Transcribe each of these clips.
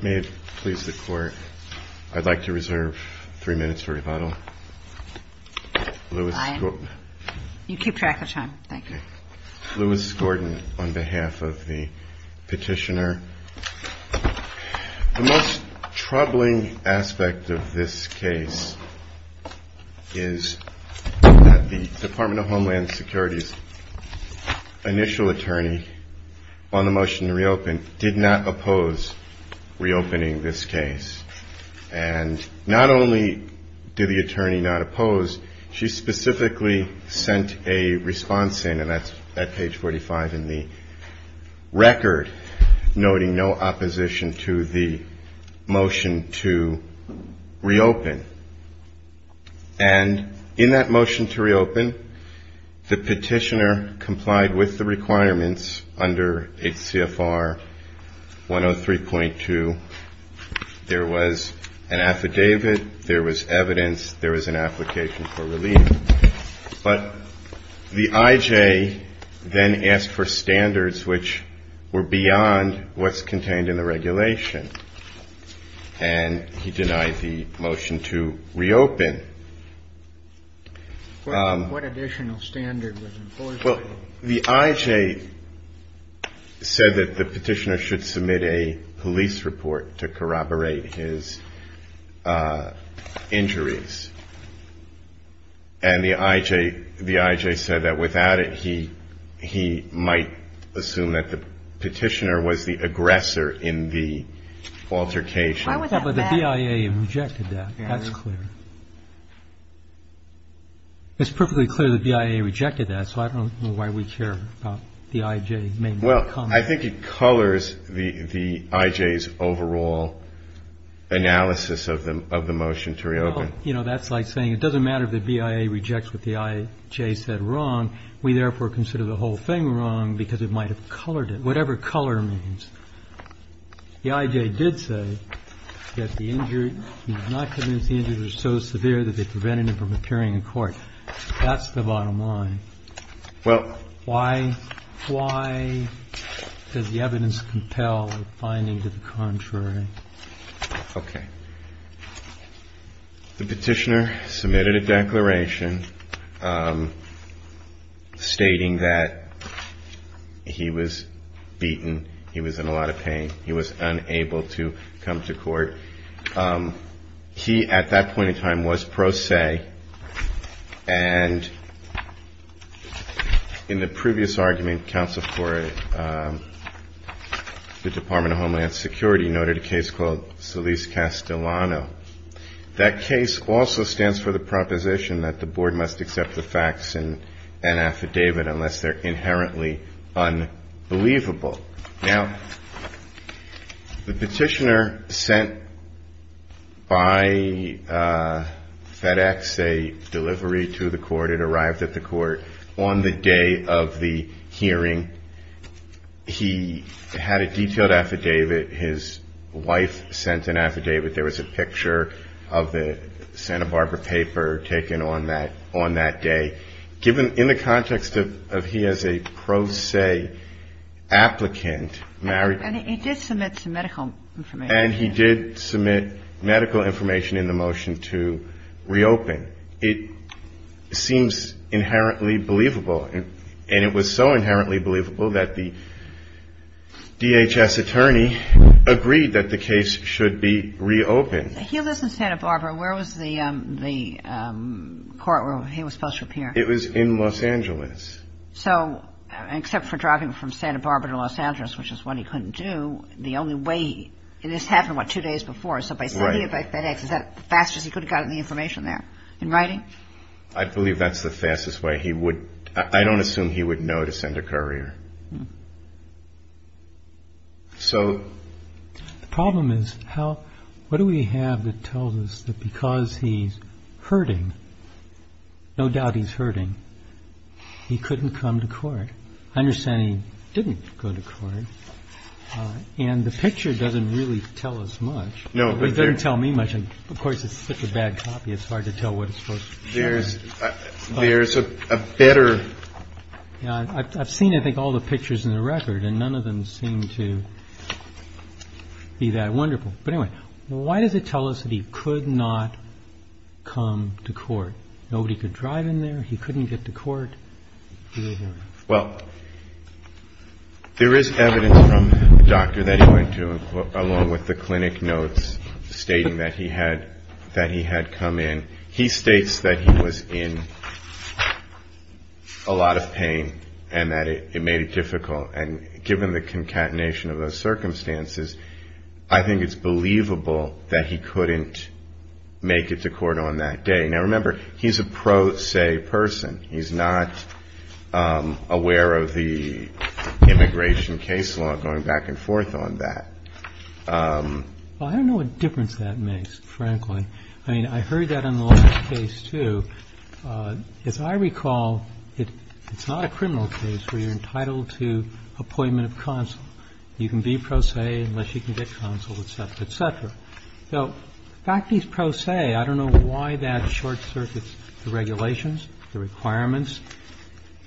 May it please the Court, I'd like to reserve three minutes for rebuttal. You keep track of time. Thank you. Lewis Gordon on behalf of the petitioner. The most troubling aspect of this case is that the Department of Homeland Security's initial attorney on the motion to reopen did not oppose reopening this case. And not only did the attorney not oppose, she specifically sent a response in, and that's at page 45 in the record, noting no opposition to the motion to reopen. And in that motion to reopen, the petitioner complied with the requirements under H.C.F.R. 103.2. There was an affidavit, there was evidence, there was an application for relief. But the I.J. then asked for standards which were beyond what's contained in the regulation, and he denied the motion to reopen. What additional standard was enforced? Well, the I.J. said that the petitioner should submit a police report to corroborate his injuries. And the I.J. said that without it, he might assume that the petitioner was the aggressor in the altercation. But the BIA rejected that. That's clear. It's perfectly clear the BIA rejected that, so I don't know why we care about the I.J. making that comment. Well, I think it colors the I.J.'s overall analysis of the motion to reopen. Well, you know, that's like saying it doesn't matter if the BIA rejects what the I.J. said wrong. We therefore consider the whole thing wrong because it might have colored it, whatever color means. The I.J. did say that the injury, he was not convinced the injuries were so severe that they prevented him from appearing in court. That's the bottom line. Well. Why does the evidence compel a finding to the contrary? Okay. The petitioner submitted a declaration stating that he was beaten, he was in a lot of pain, he was unable to come to court. He, at that point in time, was pro se. And in the previous argument, counsel for the Department of Homeland Security noted a case called Solis-Castellano. That case also stands for the proposition that the board must accept the facts in an affidavit unless they're inherently unbelievable. Now, the petitioner sent by FedEx a delivery to the court. It arrived at the court on the day of the hearing. He had a detailed affidavit. His wife sent an affidavit. There was a picture of the Santa Barbara paper taken on that day. Given in the context of he as a pro se applicant married. And he did submit some medical information. And he did submit medical information in the motion to reopen. It seems inherently believable. And it was so inherently believable that the DHS attorney agreed that the case should be reopened. He lives in Santa Barbara. Where was the court where he was supposed to appear? It was in Los Angeles. So except for driving from Santa Barbara to Los Angeles, which is what he couldn't do, the only way he – and this happened, what, two days before? Right. So by sending it by FedEx, is that the fastest he could have gotten the information there in writing? I believe that's the fastest way he would – I don't assume he would know to send a courier. So. The problem is how – what do we have that tells us that because he's hurting, no doubt he's hurting, he couldn't come to court? I understand he didn't go to court. And the picture doesn't really tell us much. No. It doesn't tell me much. Of course, it's such a bad copy, it's hard to tell what it's supposed to tell. There's a better. I've seen, I think, all the pictures in the record, and none of them seem to be that wonderful. But anyway, why does it tell us that he could not come to court? Nobody could drive in there. He couldn't get to court. Well, there is evidence from the doctor that he went to, along with the clinic notes stating that he had come in. He states that he was in a lot of pain and that it made it difficult. And given the concatenation of those circumstances, I think it's believable that he couldn't make it to court on that day. Now, remember, he's a pro se person. He's not aware of the immigration case law going back and forth on that. Well, I don't know what difference that makes, frankly. I mean, I heard that in the last case, too. As I recall, it's not a criminal case where you're entitled to appointment of counsel. You can be pro se unless you can get counsel, et cetera, et cetera. So the fact he's pro se, I don't know why that short-circuits the regulations, the requirements,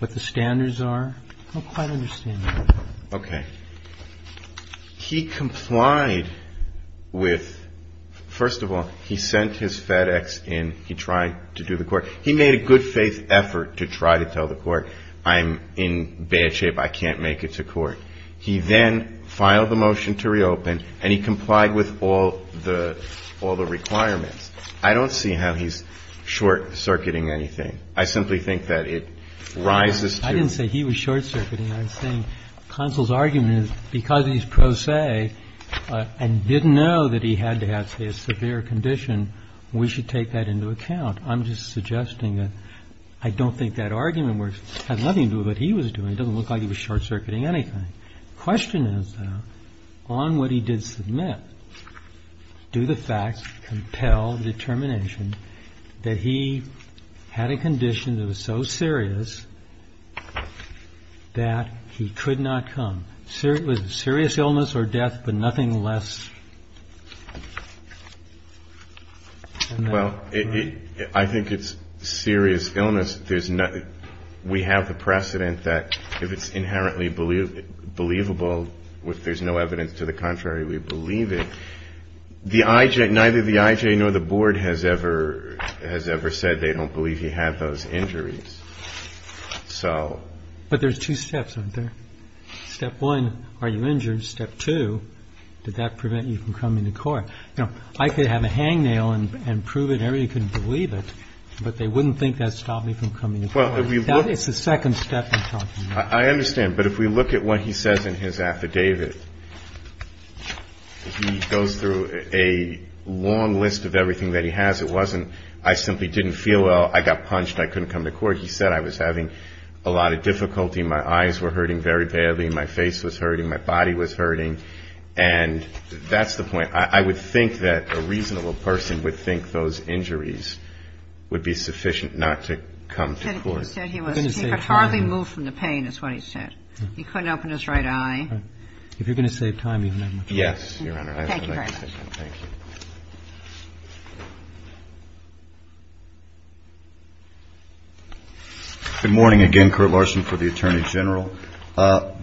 what the standards are. I don't quite understand that. Okay. He complied with, first of all, he sent his FedEx in. He tried to do the court. He made a good-faith effort to try to tell the court, I'm in bad shape, I can't make it to court. He then filed the motion to reopen, and he complied with all the requirements. I don't see how he's short-circuiting anything. I simply think that it rises to. I didn't say he was short-circuiting. I'm saying counsel's argument is because he's pro se and didn't know that he had to have, say, a severe condition, we should take that into account. I'm just suggesting that I don't think that argument works. It had nothing to do with what he was doing. It doesn't look like he was short-circuiting anything. The question is, though, on what he did submit, do the facts compel determination that he had a condition that was so serious that he could not come? Was it serious illness or death, but nothing less than that? Well, I think it's serious illness. We have the precedent that if it's inherently believable, if there's no evidence to the contrary, we believe it. Neither the IJ nor the board has ever said they don't believe he had those injuries. But there's two steps, aren't there? Step one, are you injured? Step two, did that prevent you from coming to court? I could have a hangnail and prove it and everybody couldn't believe it, but they wouldn't think that stopped me from coming to court. That is the second step in talking about it. I understand. But if we look at what he says in his affidavit, he goes through a long list of everything that he has. It wasn't, I simply didn't feel well, I got punched, I couldn't come to court. He said I was having a lot of difficulty, my eyes were hurting very badly, my face was hurting, my body was hurting. And that's the point. I would think that a reasonable person would think those injuries would be sufficient not to come to court. You said he was hardly moved from the pain is what he said. He couldn't open his right eye. If you're going to save time, you have no choice. Yes, Your Honor. Thank you very much. Thank you. Good morning again, Court Larson, for the Attorney General.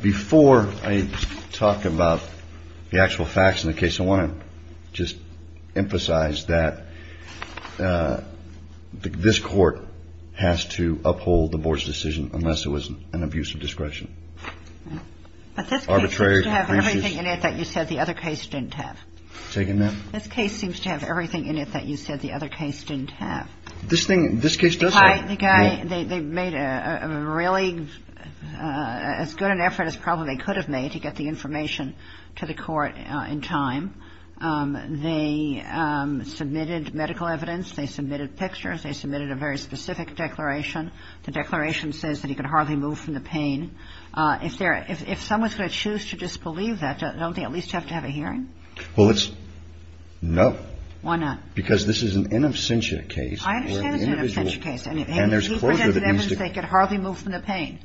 Before I talk about the actual facts in the case, I want to just emphasize that this court has to uphold the board's decision unless it was an abuse of discretion. But this case seems to have everything in it that you said the other case didn't have. Say again, ma'am? This case seems to have everything in it that you said the other case didn't have. This thing, this case does have. The guy, they made a really, as good an effort as probably they could have made to get the information to the court in time. They submitted medical evidence. They submitted pictures. They submitted a very specific declaration. The declaration says that he could hardly move from the pain. If someone's going to choose to disbelieve that, don't they at least have to have a hearing? Well, it's no. Why not? Because this is an in absentia case. I understand it's an absentia case. And he presented evidence that he could hardly move from the pain.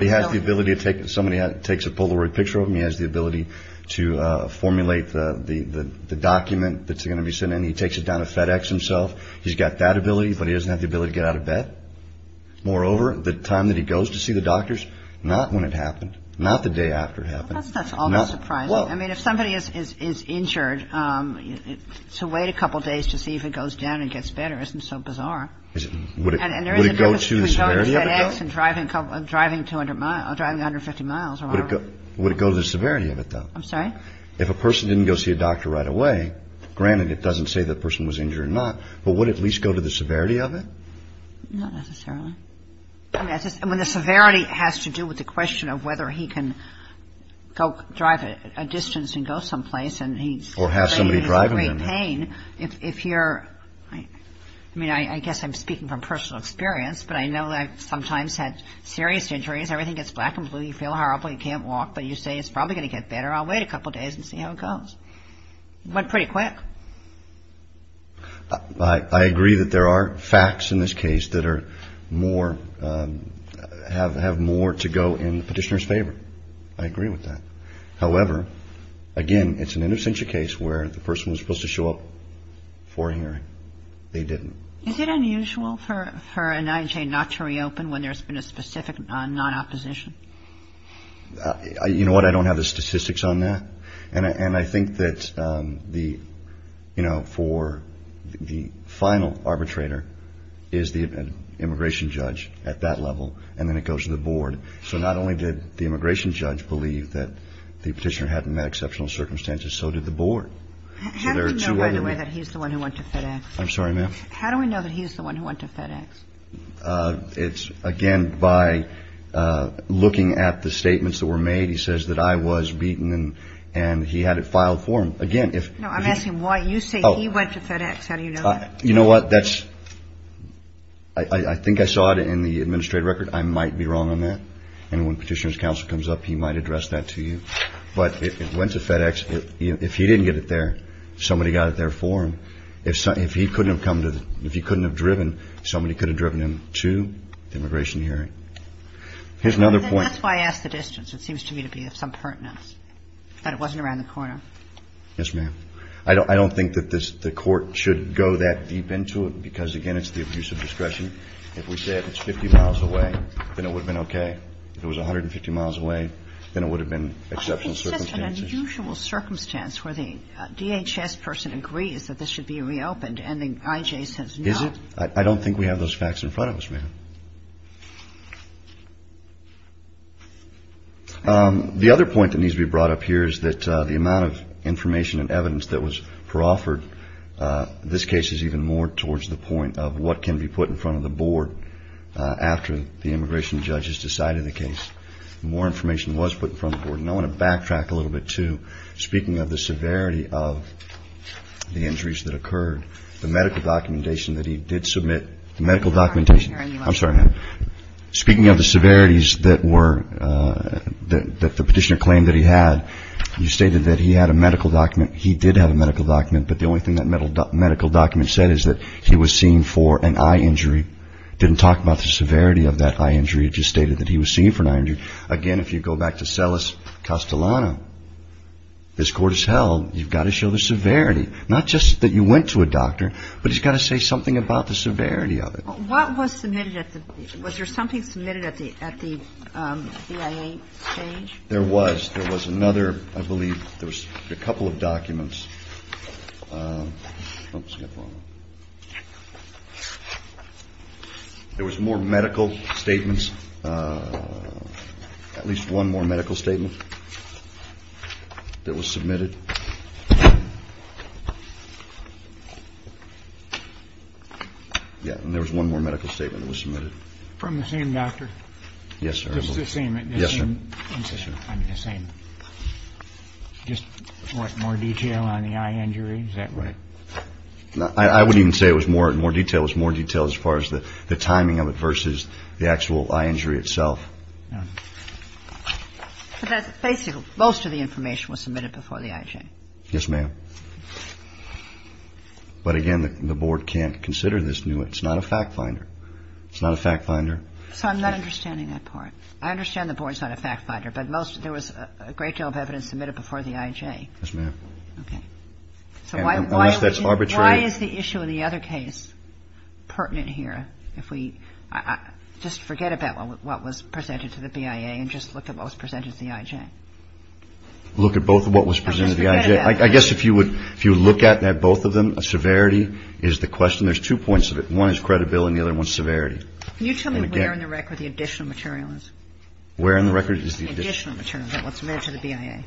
He has the ability to take, if somebody takes a Polaroid picture of him, he has the ability to formulate the document that's going to be sent in. He takes it down to FedEx himself. He's got that ability, but he doesn't have the ability to get out of bed. Moreover, the time that he goes to see the doctors, not when it happened, not the day after it happened. Well, that's almost surprising. I mean, if somebody is injured, to wait a couple days to see if it goes down and gets better, isn't so bizarre. Would it go to the severity of it, though? And there is a difference between going to FedEx and driving 150 miles around. Would it go to the severity of it, though? I'm sorry? If a person didn't go see a doctor right away, granted, it doesn't say the person was injured or not, but would it at least go to the severity of it? Not necessarily. I mean, the severity has to do with the question of whether he can go drive a distance and go someplace. Or have somebody driving him. I mean, I guess I'm speaking from personal experience, but I know I've sometimes had serious injuries. Everything gets black and blue. You feel horrible. You can't walk. But you say it's probably going to get better. I'll wait a couple days and see how it goes. It went pretty quick. I agree that there are facts in this case that are more, have more to go in the Petitioner's favor. I agree with that. However, again, it's an interstitial case where the person was supposed to show up for a hearing. They didn't. Is it unusual for an IJ not to reopen when there's been a specific non-opposition? You know what? I don't have the statistics on that. And I think that the, you know, for the final arbitrator is the immigration judge at that level, and then it goes to the board. So not only did the immigration judge believe that the Petitioner had met exceptional circumstances, so did the board. How do we know, by the way, that he's the one who went to FedEx? I'm sorry, ma'am? How do we know that he's the one who went to FedEx? It's, again, by looking at the statements that were made. He says that I was beaten and he had it filed for him. No, I'm asking why you say he went to FedEx. How do you know that? You know what? I think I saw it in the administrative record. I might be wrong on that. And when Petitioner's counsel comes up, he might address that to you. But it went to FedEx. If he didn't get it there, somebody got it there for him. If he couldn't have driven, somebody could have driven him to the immigration hearing. Here's another point. That's why I asked the distance. It seems to me to be of some pertinence, that it wasn't around the corner. Yes, ma'am. I don't think that the court should go that deep into it because, again, it's the abuse of discretion. If we said it's 50 miles away, then it would have been okay. If it was 150 miles away, then it would have been exceptional circumstances. It's just an unusual circumstance where the DHS person agrees that this should be reopened and the IJ says no. Is it? I don't think we have those facts in front of us, ma'am. The other point that needs to be brought up here is that the amount of information and evidence that was offered, this case is even more towards the point of what can be put in front of the board after the immigration judges decided the case. More information was put in front of the board. And I want to backtrack a little bit, too, speaking of the severity of the injuries that occurred, the medical documentation that he did submit, the medical documentation. I'm sorry, ma'am. Speaking of the severities that the petitioner claimed that he had, you stated that he had a medical document. He did have a medical document. But the only thing that medical document said is that he was seen for an eye injury. It didn't talk about the severity of that eye injury. It just stated that he was seen for an eye injury. Again, if you go back to Celis Castellano, this court has held you've got to show the severity, not just that you went to a doctor, but you've got to say something about the severity of it. What was submitted? Was there something submitted at the BIA stage? There was. There was another, I believe, there was a couple of documents. Oops, I got that wrong. There was more medical statements, at least one more medical statement that was submitted. Yeah, and there was one more medical statement that was submitted. From the same doctor? Yes, sir. Just the same? Yes, sir. Just more detail on the eye injury, is that right? I wouldn't even say it was more detail. It was more detail as far as the timing of it versus the actual eye injury itself. Basically, most of the information was submitted before the IJ. Yes, ma'am. But, again, the Board can't consider this new. It's not a fact finder. It's not a fact finder. So I'm not understanding that part. I understand the Board's not a fact finder, but there was a great deal of evidence submitted before the IJ. Yes, ma'am. Okay. So why is the issue in the other case pertinent here? Just forget about what was presented to the BIA and just look at what was presented to the IJ. Look at both of what was presented to the IJ. I guess if you would look at both of them, severity is the question. There's two points of it. One is credibility and the other one is severity. Can you tell me where in the record the additional material is? Where in the record is the additional material that was sent to the BIA?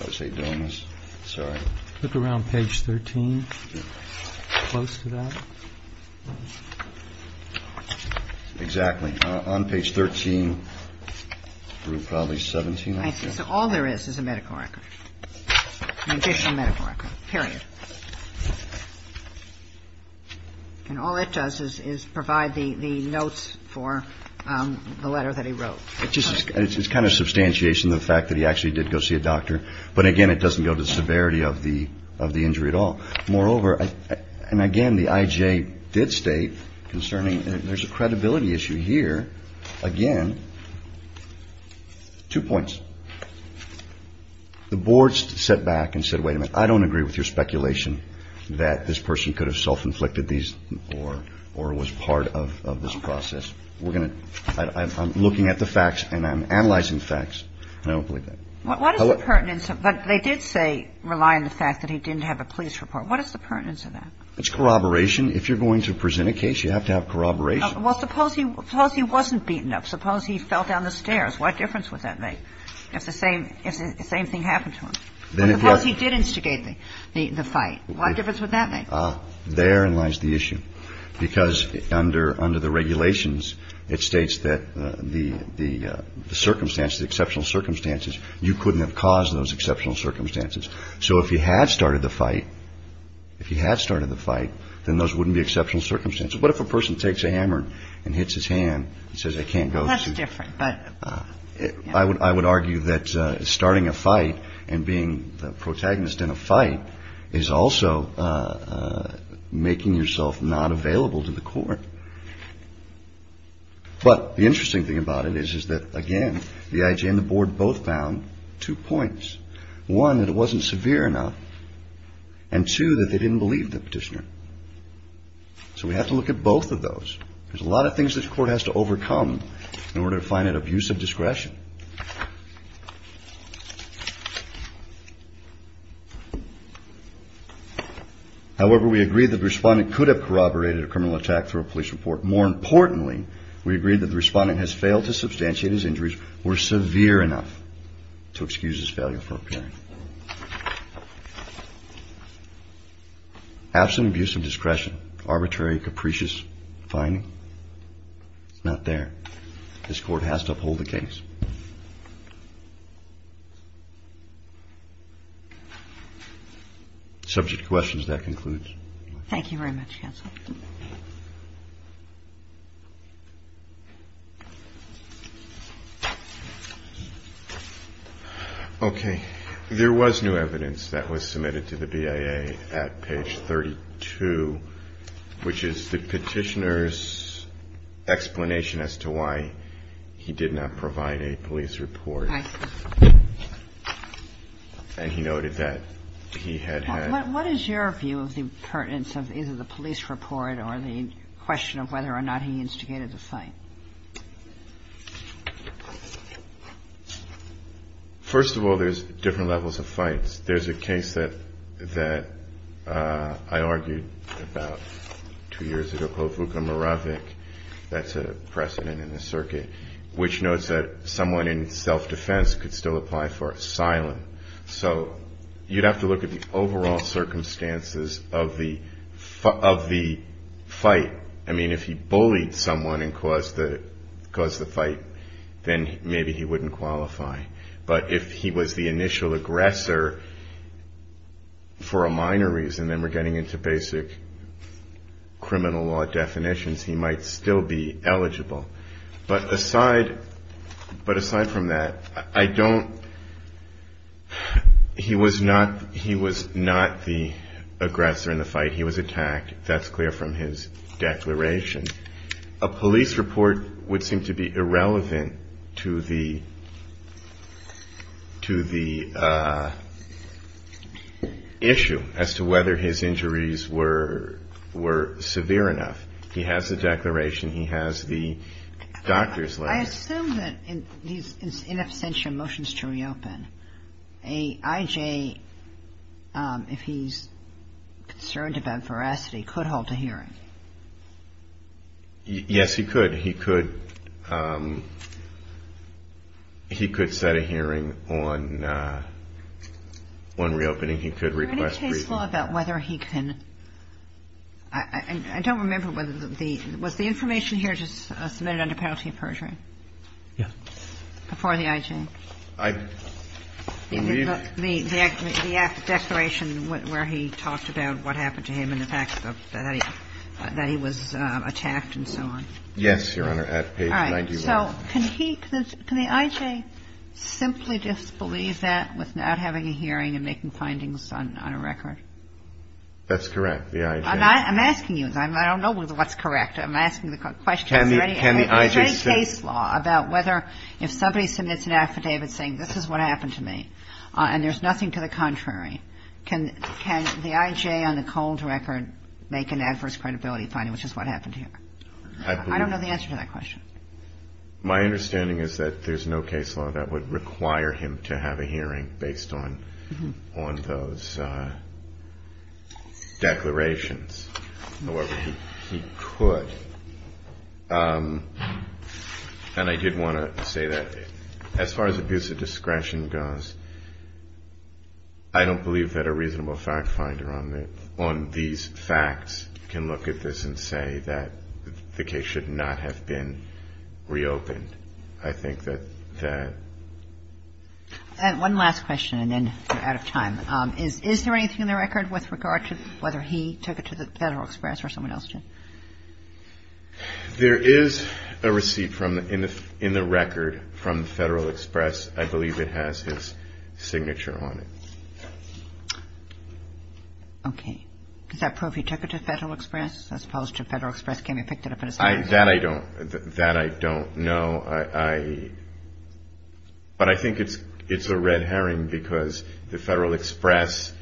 I would say donors, sorry. Look around page 13. Close to that. Exactly. On page 13, group probably 17. All there is is a medical record, additional medical record, period. And all it does is provide the notes for the letter that he wrote. It's kind of a substantiation of the fact that he actually did go see a doctor, but, again, it doesn't go to severity of the injury at all. Moreover, and, again, the IJ did state concerning, there's a credibility issue here. Again, two points. The boards sat back and said, wait a minute, I don't agree with your speculation that this person could have self-inflicted these or was part of this process. We're going to, I'm looking at the facts and I'm analyzing the facts and I don't believe that. But what is the pertinence of, they did say rely on the fact that he didn't have a police report. What is the pertinence of that? It's corroboration. If you're going to present a case, you have to have corroboration. Well, suppose he wasn't beaten up. Suppose he fell down the stairs. What difference would that make if the same thing happened to him? Or suppose he did instigate the fight. What difference would that make? Therein lies the issue. Because under the regulations, it states that the circumstances, the exceptional circumstances, you couldn't have caused those exceptional circumstances. So if he had started the fight, if he had started the fight, then those wouldn't be exceptional circumstances. What if a person takes a hammer and hits his hand and says, I can't go through? That's different. I would argue that starting a fight and being the protagonist in a fight is also making yourself not available to the court. But the interesting thing about it is, is that, again, the IJ and the board both found two points. One, that it wasn't severe enough. And two, that they didn't believe the petitioner. So we have to look at both of those. There's a lot of things that the court has to overcome in order to find that abusive discretion. However, we agree that the respondent could have corroborated a criminal attack through a police report. More importantly, we agree that the respondent has failed to substantiate his injuries were severe enough to excuse his failure for appearing. Absent abuse of discretion, arbitrary, capricious finding. Not there. This court has to uphold the case. Subject to questions, that concludes. Thank you very much, counsel. Okay. There was new evidence that was submitted to the BIA at page 32, which is the petitioner's explanation as to why he did not provide a police report. And he noted that he had had. What is your view of the pertinence of either the police report or the question of whether or not he instigated the fight? First of all, there's different levels of fights. There's a case that I argued about two years ago, Povuka-Moravec. That's a precedent in the circuit, which notes that someone in self-defense could still apply for asylum. So you'd have to look at the overall circumstances of the fight. I mean, if he bullied someone and caused the fight, then maybe he wouldn't qualify. But if he was the initial aggressor for a minor reason, then we're getting into basic criminal law definitions, he might still be eligible. But aside from that, he was not the aggressor in the fight. He was attacked. That's clear from his declaration. A police report would seem to be irrelevant to the issue as to whether his injuries were severe enough. He has the declaration. He has the doctor's letter. I assume that in these in absentia motions to reopen, a I.J., if he's concerned about veracity, could hold a hearing. Yes, he could. He could set a hearing on reopening. He could request briefing. I don't remember whether the – was the information here just submitted under penalty of perjury? Yes. Before the I.J.? The declaration where he talked about what happened to him and the fact that he was attacked and so on. Yes, Your Honor, at page 91. So can he – can the I.J. simply disbelieve that with not having a hearing and making findings on a record? That's correct, the I.J. I'm asking you. I don't know what's correct. I'm asking the question. Is there any case law about whether if somebody submits an affidavit saying this is what happened to me and there's nothing to the contrary, can the I.J. on the cold record make an adverse credibility finding, which is what happened here? I don't know the answer to that question. My understanding is that there's no case law that would require him to have a hearing based on those declarations. However, he could. And I did want to say that as far as abuse of discretion goes, I don't believe that a reasonable fact finder on these facts can look at this and say that the case should not have been reopened. I think that that – And one last question and then we're out of time. Is there anything in the record with regard to whether he took it to the Federal Express or someone else did? There is a receipt in the record from the Federal Express. I believe it has his signature on it. Okay. Is that proof he took it to Federal Express as opposed to Federal Express came and picked it up at his house? That I don't know. But I think it's a red herring because the Federal Express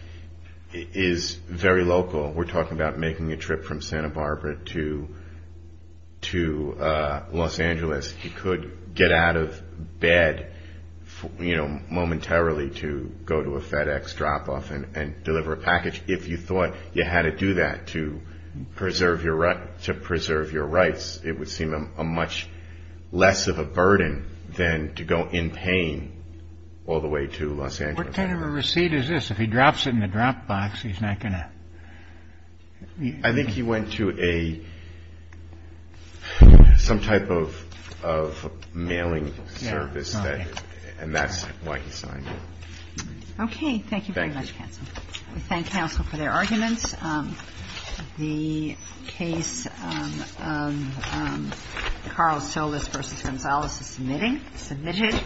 is very local. We're talking about making a trip from Santa Barbara to Los Angeles. He could get out of bed momentarily to go to a FedEx drop off and deliver a package. If you thought you had to do that to preserve your rights, it would seem a much less of a burden than to go in pain all the way to Los Angeles. What kind of a receipt is this? If he drops it in the drop box, he's not going to – I think he went to a – some type of mailing service. And that's why he signed it. Okay. Thank you very much, counsel. Thank you. We thank counsel for their arguments. The case Carl Silvis v. Gonzales is submitting. Submitted.